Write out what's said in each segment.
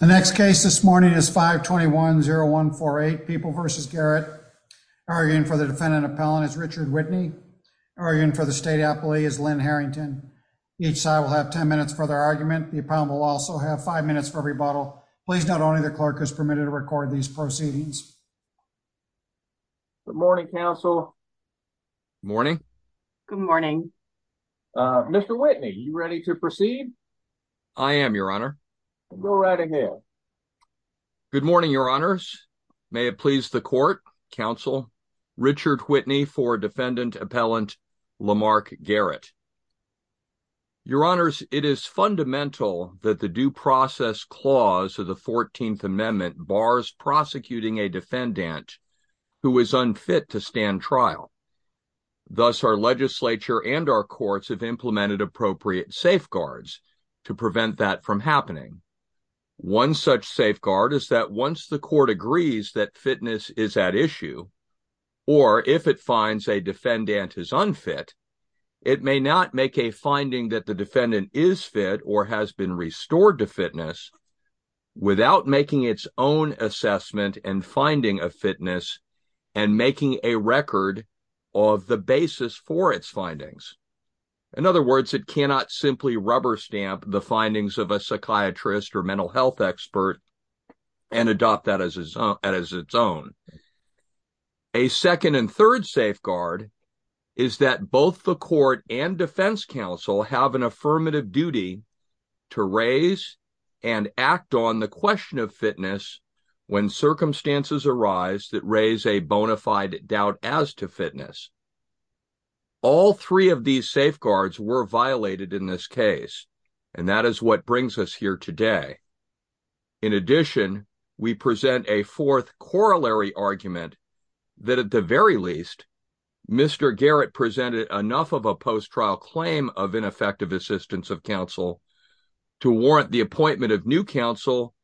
The next case this morning is 521-0148 People v. Garrett. Arguing for the defendant appellant is Richard Whitney. Arguing for the state appellee is Lynn Harrington. Each side will have 10 minutes for their argument. The appellant will also have five minutes for rebuttal. Please note only the clerk is permitted to record these proceedings. Good morning, counsel. Morning. Good morning. Uh, Mr. Whitney, you ready to proceed? I am, your honor. Go right ahead. Good morning, your honors. May it please the court, counsel. Richard Whitney for defendant appellant Lamarck Garrett. Your honors, it is fundamental that the due process clause of the 14th amendment bars prosecuting a defendant who is unfit to stand trial. Thus our legislature and our courts have implemented appropriate safeguards to prevent that from happening. One such safeguard is that once the court agrees that fitness is at issue, or if it finds a defendant is unfit, it may not make a finding that the defendant is fit or has been restored to fitness without making its own assessment and finding of fitness and making a record of the basis for its findings. In other words, it cannot simply rubber stamp the findings of a psychiatrist or mental health expert and adopt that as its own. A second and third safeguard is that both the court and defense counsel have an affirmative duty to raise and act on the fitness. All three of these safeguards were violated in this case, and that is what brings us here today. In addition, we present a fourth corollary argument that at the very least, Mr. Garrett presented enough of a post-trial claim of ineffective assistance of counsel to warrant the appointment of new counsel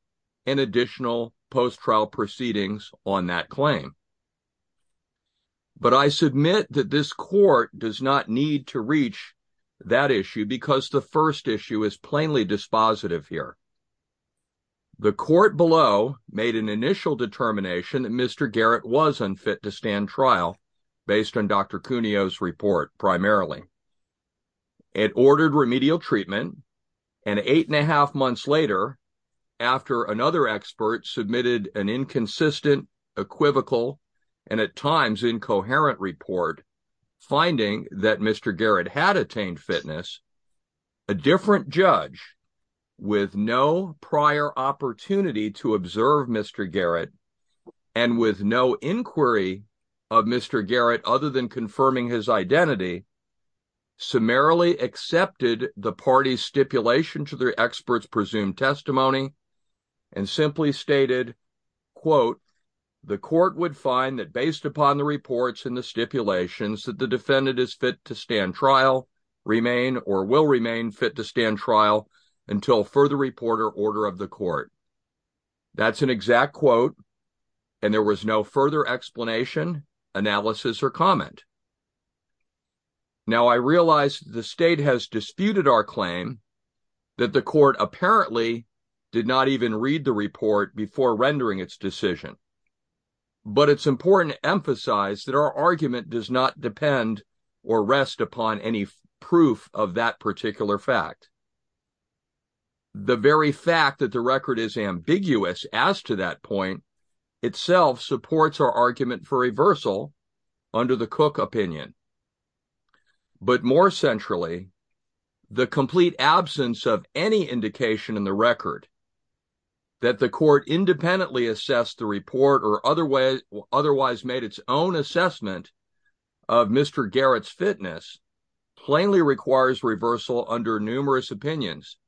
and additional post-trial proceedings on that claim. But I submit that this court does not need to reach that issue because the first issue is plainly dispositive here. The court below made an initial determination that Mr. Garrett was unfit to stand trial based on Dr. Cuneo's report, primarily. It ordered remedial treatment, and eight and a half months later, after another expert submitted an inconsistent, equivocal, and at times incoherent report finding that Mr. Garrett had attained fitness, a different judge with no prior opportunity to observe Mr. Garrett and with no inquiry of Mr. Garrett other than confirming his identity, summarily accepted the party's stipulation to their expert's presumed testimony, and simply stated, quote, the court would find that based upon the reports and the stipulations that the defendant is fit to stand trial, remain, or will remain fit to stand trial until further report or order of the court. That's an exact quote, and there was no further explanation, analysis, or comment. Now, I realize the state has disputed our claim that the court apparently did not even read the report before rendering its decision, but it's important to emphasize that our argument does not depend or rest upon any proof of that particular fact. The very fact that the record is ambiguous as to that point itself supports our argument for reversal under the Cook opinion, but more centrally, the complete absence of any indication in the record that the court independently assessed the report or otherwise made its own assessment of Mr. Garrett's fitness plainly requires reversal under numerous opinions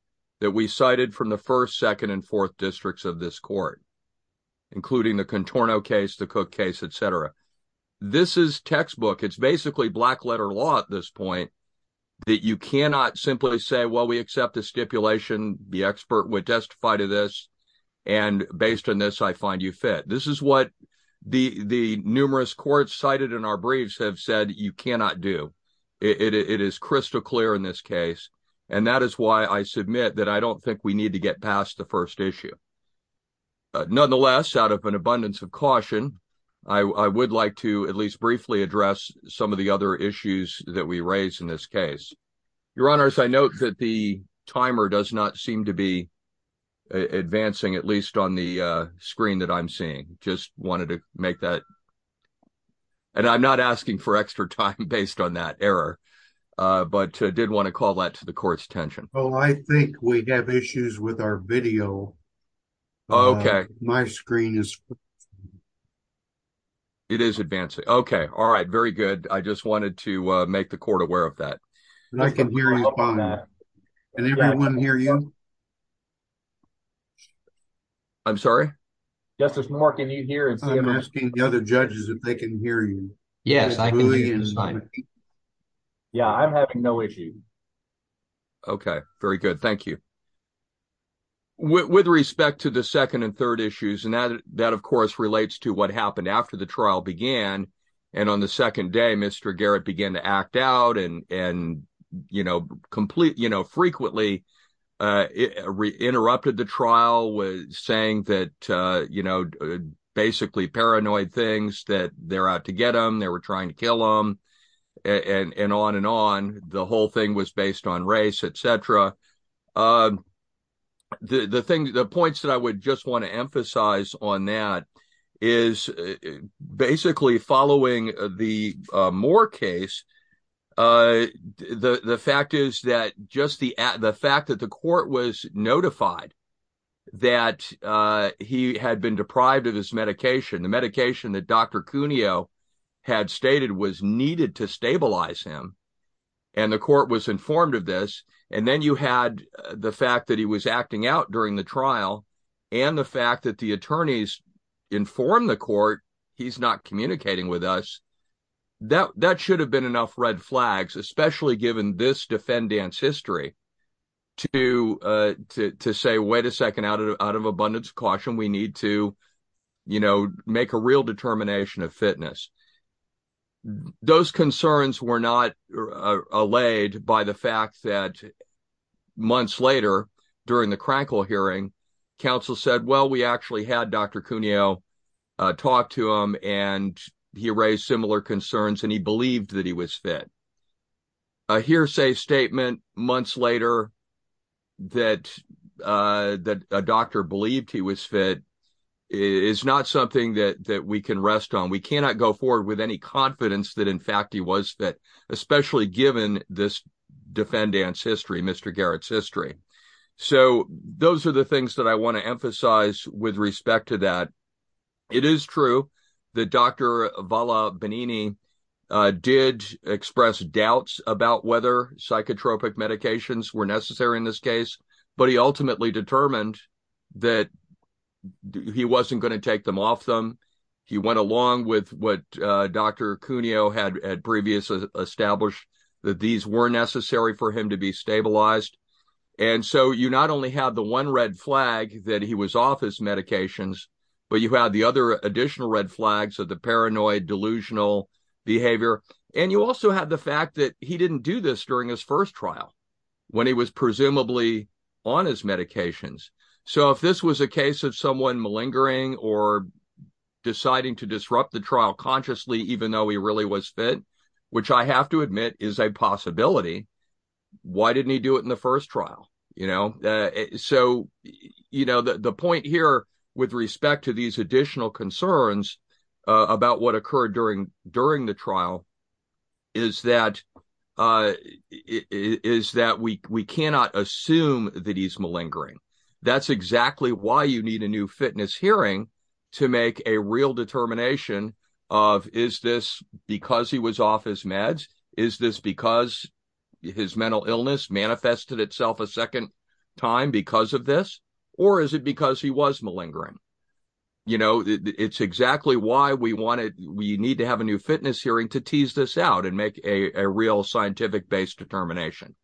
that we cited from the first, second, and fourth districts of this court, including the Contorno case, the Cook case, et cetera. This is textbook. It's basically black-letter law at this point that you cannot simply say, well, we accept the stipulation. The expert would testify to this, and based on this, I find you fit. This is what the numerous courts cited in our briefs have said you cannot do. It is crystal clear in this case, and that is why I submit that I don't think we need to get past the first issue. Nonetheless, out of an abundance of caution, I would like to at least briefly address some of the other issues that we raise in this case. Your Honors, I note that the timer does not seem to be advancing, at least on the screen that I'm seeing. Just wanted to make that, and I'm not asking for extra time based on that error, but I did want to call that to the court's attention. Well, I think we have issues with our video. Okay. My screen is. It is advancing. Okay. All right. Very good. I just wanted to make the court aware of that. I can hear you fine. Can everyone hear you? I'm sorry? Justice Moore, can you hear and see? I'm asking the other judges if they can hear you. Yes, I can hear you just fine. Yeah, I'm having no issue. Okay. Very good. Thank you. With respect to the second and third issues, and that of course relates to what happened after the trial began, and on the second day, Mr. Garrett began to act out and frequently interrupted the trial, saying basically paranoid things, that they're out to get them, they were trying to kill them, and on and on. The whole thing was based on race, et cetera. The points that I would just want to emphasize on that is basically following the Moore case, the fact is that just the fact that the court was notified that he had been deprived of his medication, the medication that Dr. Cuneo had stated was needed to stabilize him, and the court was informed of this, and then you had the fact that he was acting out during the trial, and the fact that the attorneys informed the court, he's not communicating with us, that should have been enough red flags, especially given this defendant's history, to say, wait a second, out of abundance of caution, we need to make a real determination of fitness. Those concerns were not allayed by the fact that months later, during the Krankel hearing, counsel said, well, we actually had Dr. Cuneo talk to him, and he raised similar concerns, and he believed that he was fit. A hearsay statement months later that a doctor believed he was fit is not something that we can rest on. We cannot go forward with any confidence that, in fact, he was fit, especially given this defendant's history, Mr. Garrett's history. So those are the things that I want to emphasize with respect to that. It is true that Dr. Valla Benigni did express doubts about whether psychotropic medications were necessary in this case, but he ultimately determined that he wasn't going to take them off them. He went along with what Dr. Cuneo had previously established, that these were necessary for him to be stabilized, and so you not only had the one red flag that he was off his medications, but you had the other additional red flags of the paranoid, delusional behavior, and you also had the fact that he didn't do this during his first trial, when he was presumably on his medications. So if this was a case of someone malingering or deciding to disrupt the trial consciously, even though he really was which I have to admit is a possibility, why didn't he do it in the first trial? So the point here with respect to these additional concerns about what occurred during the trial is that we cannot assume that he's malingering. That's exactly why you need a new fitness hearing to make a real determination of, is this because he was off his meds? Is this because his mental illness manifested itself a second time because of this, or is it because he was malingering? It's exactly why we need to have a new fitness hearing to tease this out and make a real scientific-based determination.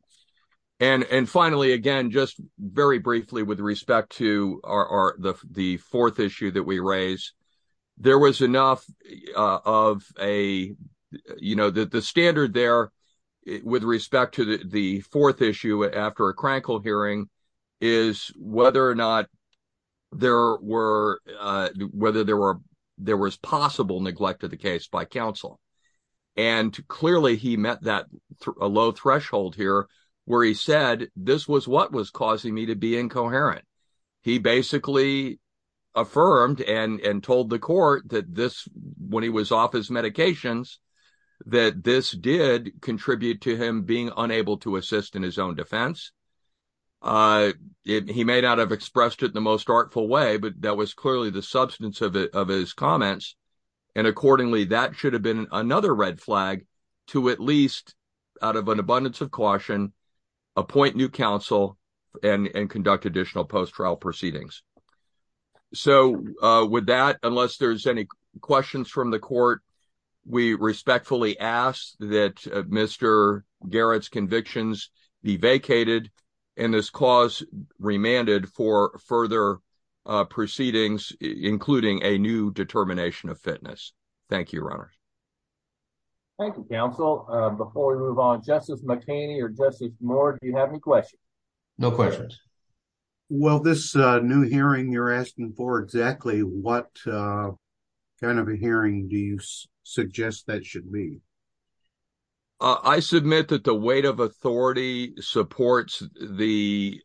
And finally, again, just very briefly with respect to the fourth issue that we raised, there was enough of a, you know, the standard there with respect to the fourth issue after a crankle hearing is whether or not there were, whether there was possible neglect of the case by counsel. And clearly he met that low threshold here where he this was what was causing me to be incoherent. He basically affirmed and told the court that this, when he was off his medications, that this did contribute to him being unable to assist in his own defense. He may not have expressed it in the most artful way, but that was clearly the substance of his comments. And accordingly, that should have been another red flag to at least out of an abundance of caution, appoint new counsel and conduct additional post-trial proceedings. So with that, unless there's any questions from the court, we respectfully ask that Mr. Garrett's convictions be vacated and this clause remanded for further proceedings, including a new determination of fitness. Thank you, runners. Thank you, counsel. Before we move on, Justice McHaney or Justice Moore, do you have any questions? No questions. Well, this new hearing you're asking for exactly what kind of a hearing do you suggest that should be? I submit that the weight of authority supports the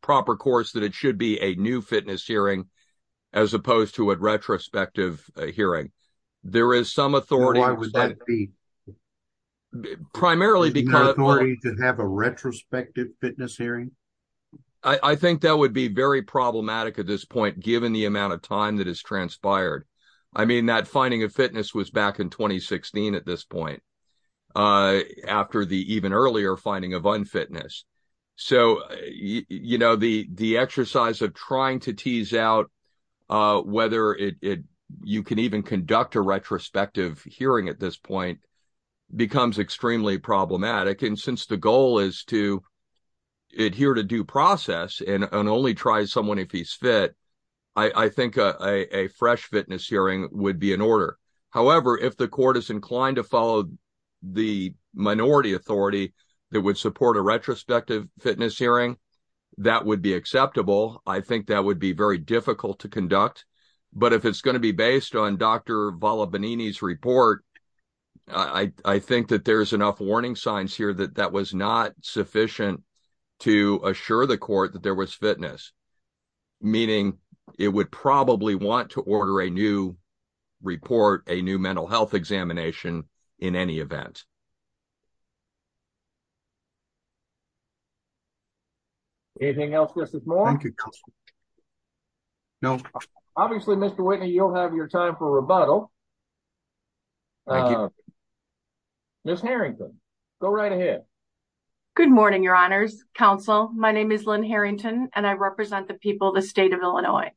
proper courts that it should be a new fitness hearing as opposed to a retrospective hearing. There is some authority. Why would that be? Primarily because. The authority to have a retrospective fitness hearing? I think that would be very problematic at this point, given the amount of time that has transpired. I mean, that finding of fitness was back in 2016 at this point, after the even earlier finding of fitness. So to tease out whether you can even conduct a retrospective hearing at this point becomes extremely problematic. And since the goal is to adhere to due process and only try someone if he's fit, I think a fresh fitness hearing would be in order. However, if the court is inclined to follow the minority authority that would support a retrospective fitness hearing, that would be difficult to conduct. But if it's going to be based on Dr. Vallobanini's report, I think that there's enough warning signs here that that was not sufficient to assure the court that there was fitness, meaning it would probably want to order a new report, a new mental health in any event. Anything else? No. Obviously, Mr. Whitney, you'll have your time for rebuttal. Ms. Harrington, go right ahead. Good morning, Your Honors. Counsel, my name is Lynn Harrington, and I represent the people of Illinois.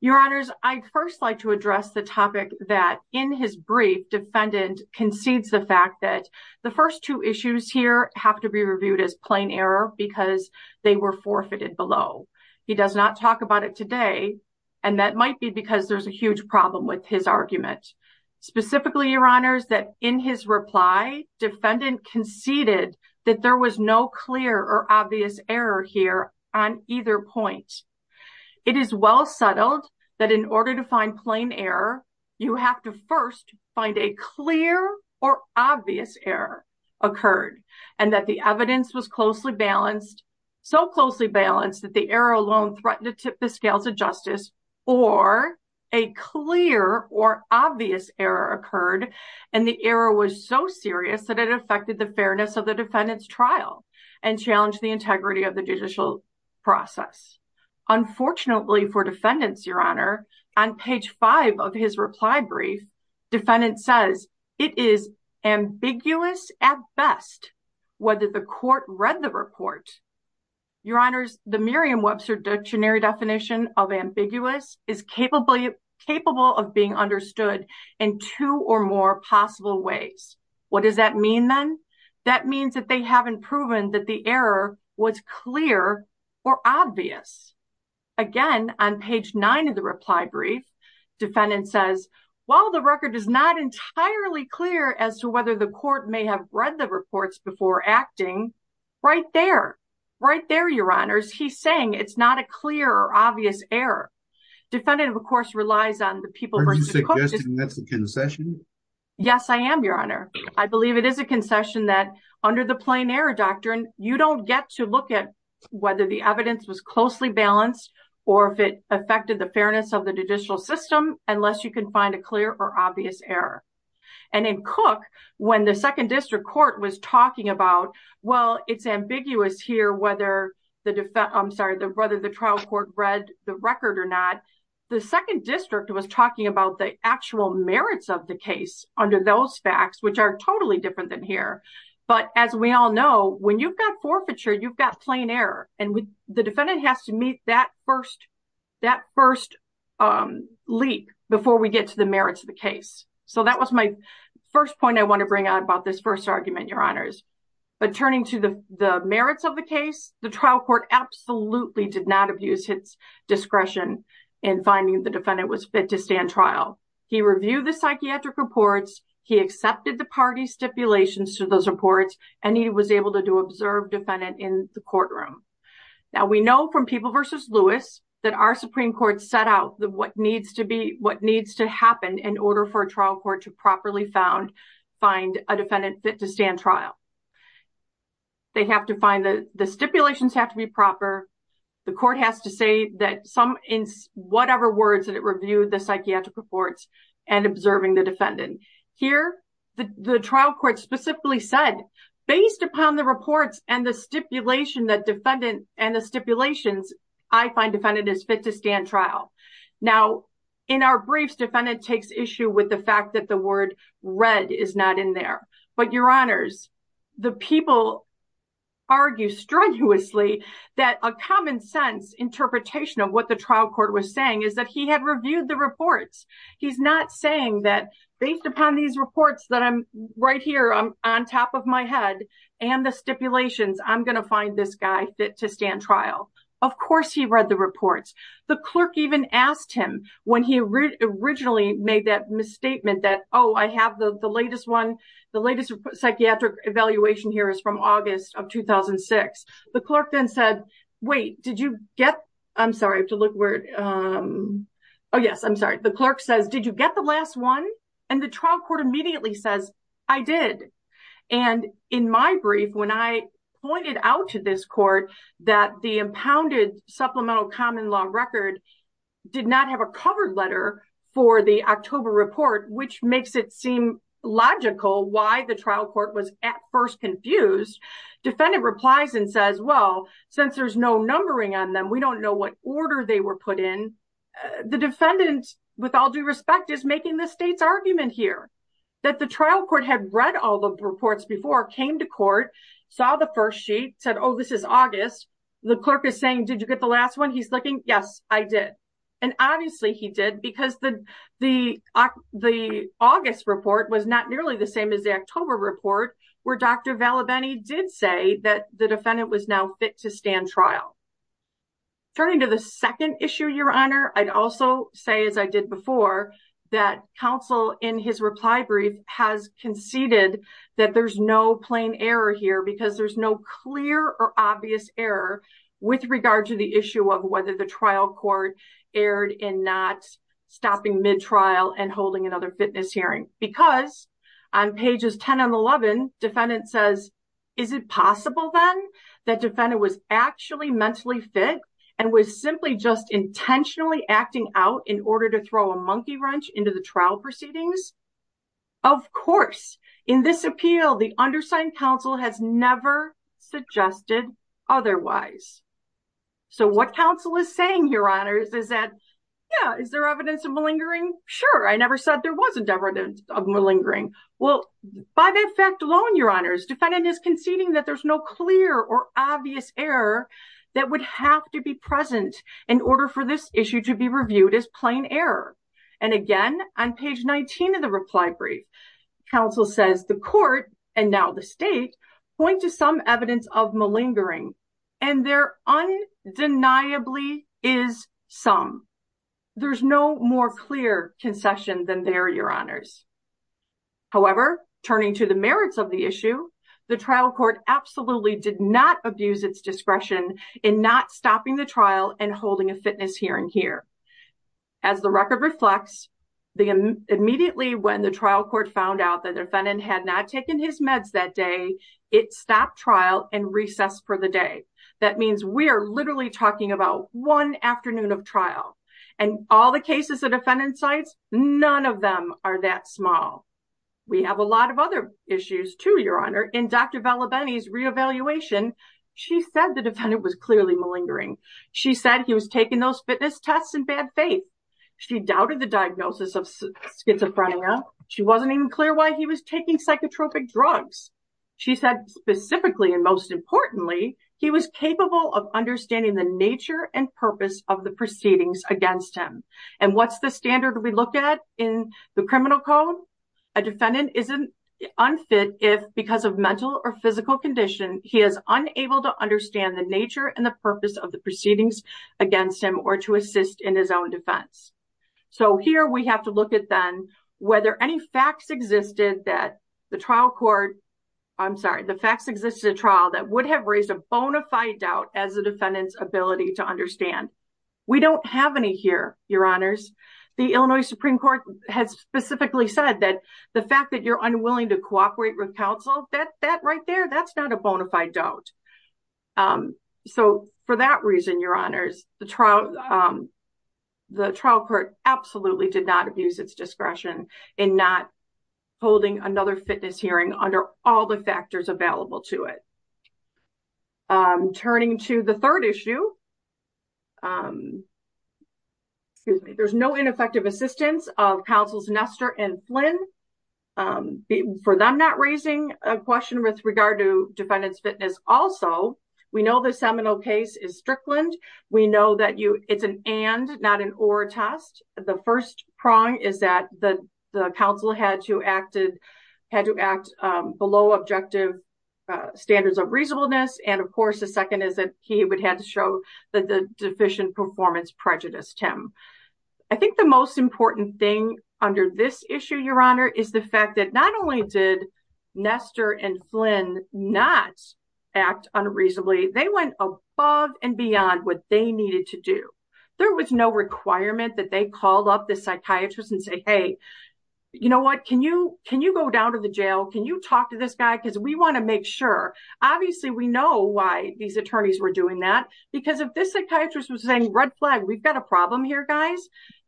Your Honors, I'd first like to address the topic that in his brief, defendant concedes the fact that the first two issues here have to be reviewed as plain error because they were forfeited below. He does not talk about it today, and that might be because there's a huge problem with his argument. Specifically, Your Honors, that in his reply, defendant conceded that there was no clear or obvious error here on either point. It is well settled that in order to find plain error, you have to first find a clear or obvious error occurred, and that the evidence was so closely balanced that the error alone threatened to tip the scales of justice, or a clear or obvious error occurred, and the error was so serious that it affected the fairness of the defendant's trial and challenged the integrity of the judicial process. Unfortunately for defendants, Your Honor, on page five of his reply brief, defendant says it is ambiguous at best whether the court read the report. Your Honors, the Merriam-Webster dictionary definition of ambiguous is capable of being understood in two or more possible ways. What does that mean then? That means that they haven't proven that the error was clear or obvious. Again, on page nine of the reply brief, defendant says while the record is not entirely clear as to whether the court may have read the reports before acting, right there, right there, Your Honors, he's saying it's not a clear or obvious error. Defendant, of course, relies on the people. Are you suggesting that's a concession? Yes, I am, Your Honor. I believe it is a concession that under the plain error doctrine, you don't get to look at whether the evidence was closely balanced or if it affected the fairness of the judicial system unless you can find a clear or obvious error. And in Cook, when the Second District Court was talking about, well, it's ambiguous here whether the trial court read the record or not, the Second District was talking about the actual merits of the case under those facts, which are totally different than here. But as we all know, when you've got forfeiture, you've got plain error. And the defendant has to meet that first leap before we get to the merits of the case. So that was my first point I want to bring out about this first argument, Your Honors. But turning to the merits of the case, the trial court absolutely did not abuse its discretion in finding the defendant was fit to stand trial. He reviewed the psychiatric reports, he accepted the party stipulations to those reports, and he was able to observe defendant in the courtroom. Now, we know from People v. Lewis that our Supreme Court set out what needs to happen in order for a trial court to properly find a defendant fit to stand trial. They have to find the stipulations have to be proper. The court has to say that some in whatever words that it reviewed the psychiatric reports and observing the defendant. Here, the trial court specifically said, based upon the reports and the stipulation that defendant and the stipulations, I find defendant is fit to stand trial. Now, in our briefs, defendant takes issue with the fact that the word read is not in there. But Your Honors, the people argue strenuously that a common sense interpretation of what the trial court was saying is that he had reviewed the reports. He's not saying that based upon these reports that I'm right here on top of my head, and the stipulations, I'm going to find this guy fit to stand trial. Of course, he read the reports. The clerk even asked him when he originally made that misstatement that, oh, I have the latest one. The latest psychiatric evaluation here is from August of 2006. The clerk then said, wait, did you get, I'm sorry, I have to look where, oh, yes, I'm sorry. The clerk says, did you get the last one? And the trial court immediately says, I did. And in my brief, when I pointed out to this court that the impounded supplemental common law record did not have a covered letter for the October report, which makes it seem logical why the trial court was at first confused, defendant replies and says, well, since there's no numbering on them, we don't know what order they were put in. The defendant, with all due respect, is making the state's argument here that the trial court had read all the reports before, came to court, saw the first sheet, said, oh, this is August. The clerk is saying, did you get the last one? He's looking, yes, I did. And obviously he did because the August report was not nearly the same as the October report where Dr. Vallabheny did say that the defendant was now fit to stand trial. Turning to the second issue, Your Honor, I'd also say, as I did before, that counsel in his reply has conceded that there's no plain error here because there's no clear or obvious error with regard to the issue of whether the trial court erred in not stopping mid-trial and holding another fitness hearing. Because on pages 10 and 11, defendant says, is it possible then that defendant was actually mentally fit and was simply just intentionally acting out in order to throw a Of course, in this appeal, the undersigned counsel has never suggested otherwise. So what counsel is saying, Your Honors, is that, yeah, is there evidence of malingering? Sure, I never said there wasn't evidence of malingering. Well, by that fact alone, Your Honors, defendant is conceding that there's no clear or obvious error that would have to be present in order for this issue to be reviewed as plain error. And again, on page 19 of the reply brief, counsel says the court, and now the state, point to some evidence of malingering. And there undeniably is some. There's no more clear concession than there, Your Honors. However, turning to the merits of the issue, the trial court absolutely did not abuse its and here. As the record reflects, immediately when the trial court found out that defendant had not taken his meds that day, it stopped trial and recessed for the day. That means we are literally talking about one afternoon of trial. And all the cases the defendant cites, none of them are that small. We have a lot of other issues too, Your Honor. In Dr. Vallabheny's re-evaluation, she said the defendant was clearly malingering. She said he was taking those fitness tests in bad faith. She doubted the diagnosis of schizophrenia. She wasn't even clear why he was taking psychotropic drugs. She said specifically and most importantly, he was capable of understanding the nature and purpose of the proceedings against him. And what's the standard we look at in the criminal code? A defendant isn't unfit if because of mental or physical condition, he is unable to understand the nature and the purpose of the proceedings against him or to assist in his own defense. So here we have to look at then whether any facts existed that the trial court, I'm sorry, the facts existed trial that would have raised a bona fide doubt as a defendant's ability to understand. We don't have any here, Your Honors. The Illinois Supreme Court has specifically said that the fact that you're unwilling to that's not a bona fide doubt. So for that reason, Your Honors, the trial court absolutely did not abuse its discretion in not holding another fitness hearing under all the factors available to it. Turning to the third issue, there's no ineffective assistance of counsels Nestor and Flynn for them not raising a question with regard to defendant's fitness. Also, we know the seminal case is Strickland. We know that it's an and not an or test. The first prong is that the counsel had to act below objective standards of reasonableness. And of course, the second is that he would have to show that the deficient performance prejudiced him. I think the most important thing under this issue, Your Honor, is the fact that not only did Nestor and Flynn not act unreasonably, they went above and beyond what they needed to do. There was no requirement that they called up the psychiatrist and say, hey, you know what, can you can you go down to the jail? Can you talk to this guy? Because we want to make sure. Obviously, we know why these attorneys were doing that. Because if this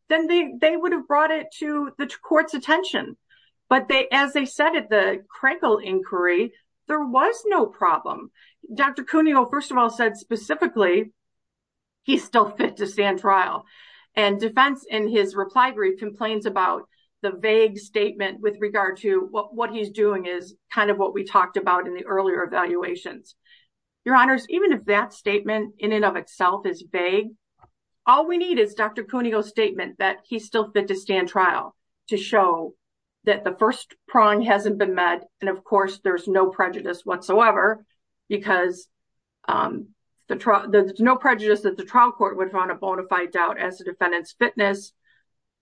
then they they would have brought it to the court's attention. But they as they said at the Crankle inquiry, there was no problem. Dr. Cuneo first of all said specifically, he's still fit to stand trial. And defense in his reply brief complains about the vague statement with regard to what what he's doing is kind of what we talked about in the earlier evaluations. Your Honors, even if that statement in and of itself is vague, all we need is Dr. Cuneo's statement that he's still fit to stand trial to show that the first prong hasn't been met. And of course, there's no prejudice whatsoever. Because there's no prejudice that the trial court would run a bona fide doubt as a defendant's fitness.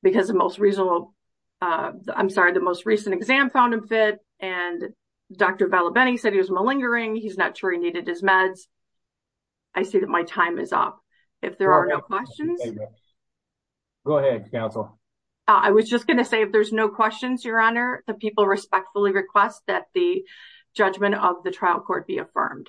Because the most reasonable I'm sorry, the most recent exam found him fit. And Dr. Bellabene said he was malingering. He's not sure he needed his meds. I see that my time is up. If there are no questions. Go ahead, counsel. I was just gonna say if there's no questions, Your Honor, the people respectfully request that the judgment of the trial court be affirmed.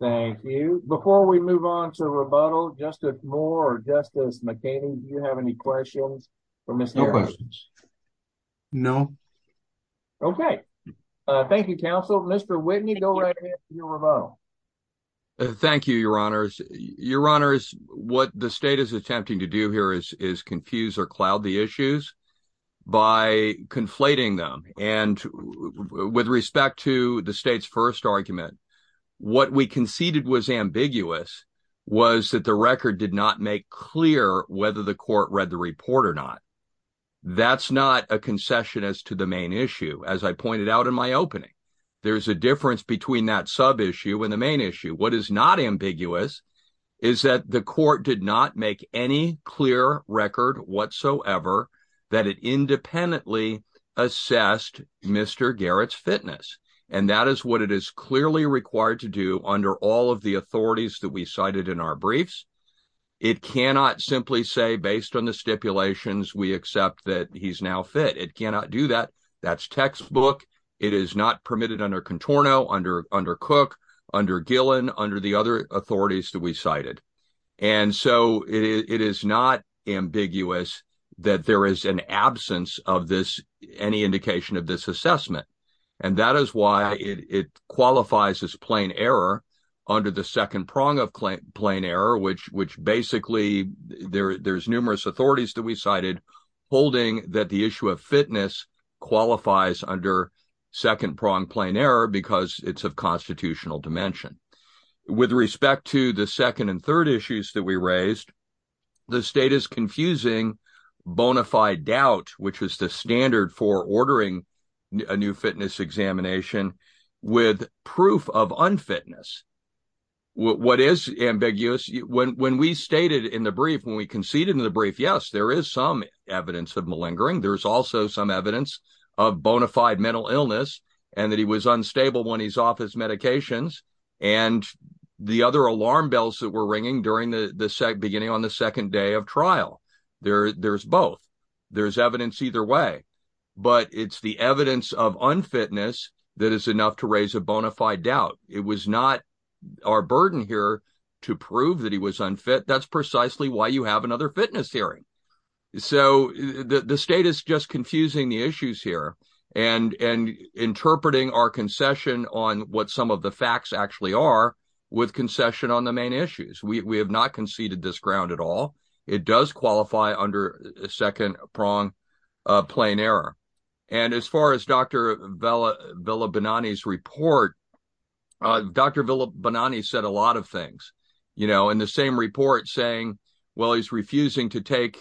Thank you. Before we move on to rebuttal, Justice Moore, Justice McCain, do you have any questions for Mr. Harris? No. Okay. Thank you, counsel. Mr. Whitney, go right ahead to your rebuttal. Thank you, Your Honors. Your Honors, what the state is attempting to do here is confuse or cloud the issues by conflating them. And with respect to the state's first argument, what we conceded was ambiguous was that the record did not make clear whether the court read the report or not. That's not a concession as to the main issue. As I pointed out in my opening, there's a difference between that sub issue and the main issue. What is not ambiguous is that the court did not make any clear record whatsoever that it independently assessed Mr. Garrett's fitness. And that is what it is clearly required to do under all of the authorities that we cited in our briefs. It cannot simply say, based on the stipulations, we accept that he's now fit. It cannot do that. That's textbook. It is not permitted under Contorno, under Cook, under Gillen, under the other authorities that we cited. And so it is not ambiguous that there is an absence of any indication of this assessment. And that is why it qualifies as plain error under the second prong of plain error, which basically there's numerous authorities that we cited holding that the issue of fitness qualifies under second prong plain error because it's of constitutional dimension. With respect to the second and third issues that we raised, the state is confusing bona fide doubt, which is the standard for ordering a new fitness examination with proof of unfitness. What is ambiguous? When we stated in the brief, when we conceded in the brief, yes, there is some evidence of malingering. There's also some evidence of bona fide mental illness and that he was unstable when he's off his medications. And the other alarm bells that ringing beginning on the second day of trial. There's both. There's evidence either way. But it's the evidence of unfitness that is enough to raise a bona fide doubt. It was not our burden here to prove that he was unfit. That's precisely why you have another fitness hearing. So the state is just confusing the issues here and interpreting our concession on what some of the facts actually are with concession on the main issues. We have not conceded this ground at all. It does qualify under second prong plain error. And as far as Dr. Villa Benani's report, Dr. Villa Benani said a lot of things, you know, in the same report saying, well, he's refusing to doubt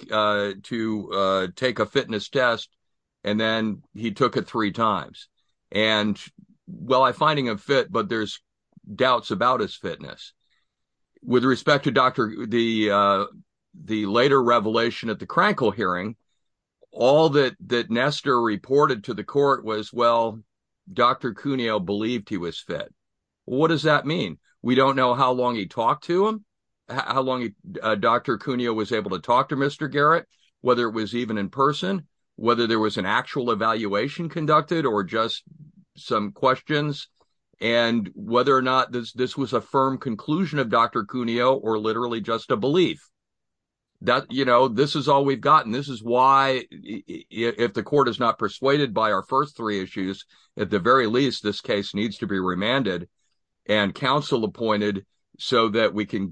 about his fitness. With respect to the later revelation at the Krankel hearing, all that Nestor reported to the court was, well, Dr. Cuneo believed he was fit. What does that mean? We don't know how long he talked to him, how long Dr. Cuneo was able to talk to Mr. Garrett, whether it was even in person, whether there was an actual evaluation conducted or just some questions, and whether or not this was a firm conclusion of Dr. Cuneo or literally just a belief. You know, this is all we've gotten. This is why, if the court is not persuaded by our first three issues, at the very least, this case needs to be remanded and counsel appointed so that we can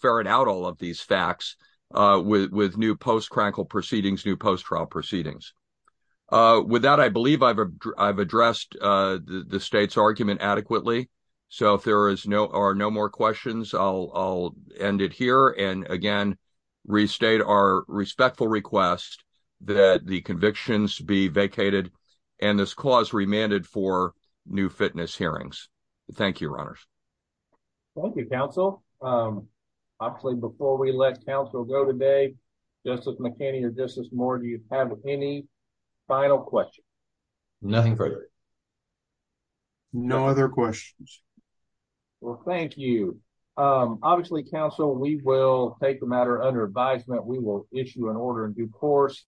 ferret out all of these facts with new post-Krankel proceedings, new post-trial proceedings. With that, I believe I've addressed the state's argument adequately. So, if there are no more questions, I'll end it here and, again, restate our respectful request that the convictions be vacated and this clause remanded for new fitness hearings. Thank you, Your Honors. Thank you, Counsel. Obviously, before we let Counsel go today, Justice McKinney or Justice Moore, do you have any final questions? Nothing further. No other questions. Well, thank you. Obviously, Counsel, we will take the matter under advisement. We will issue an order in due course.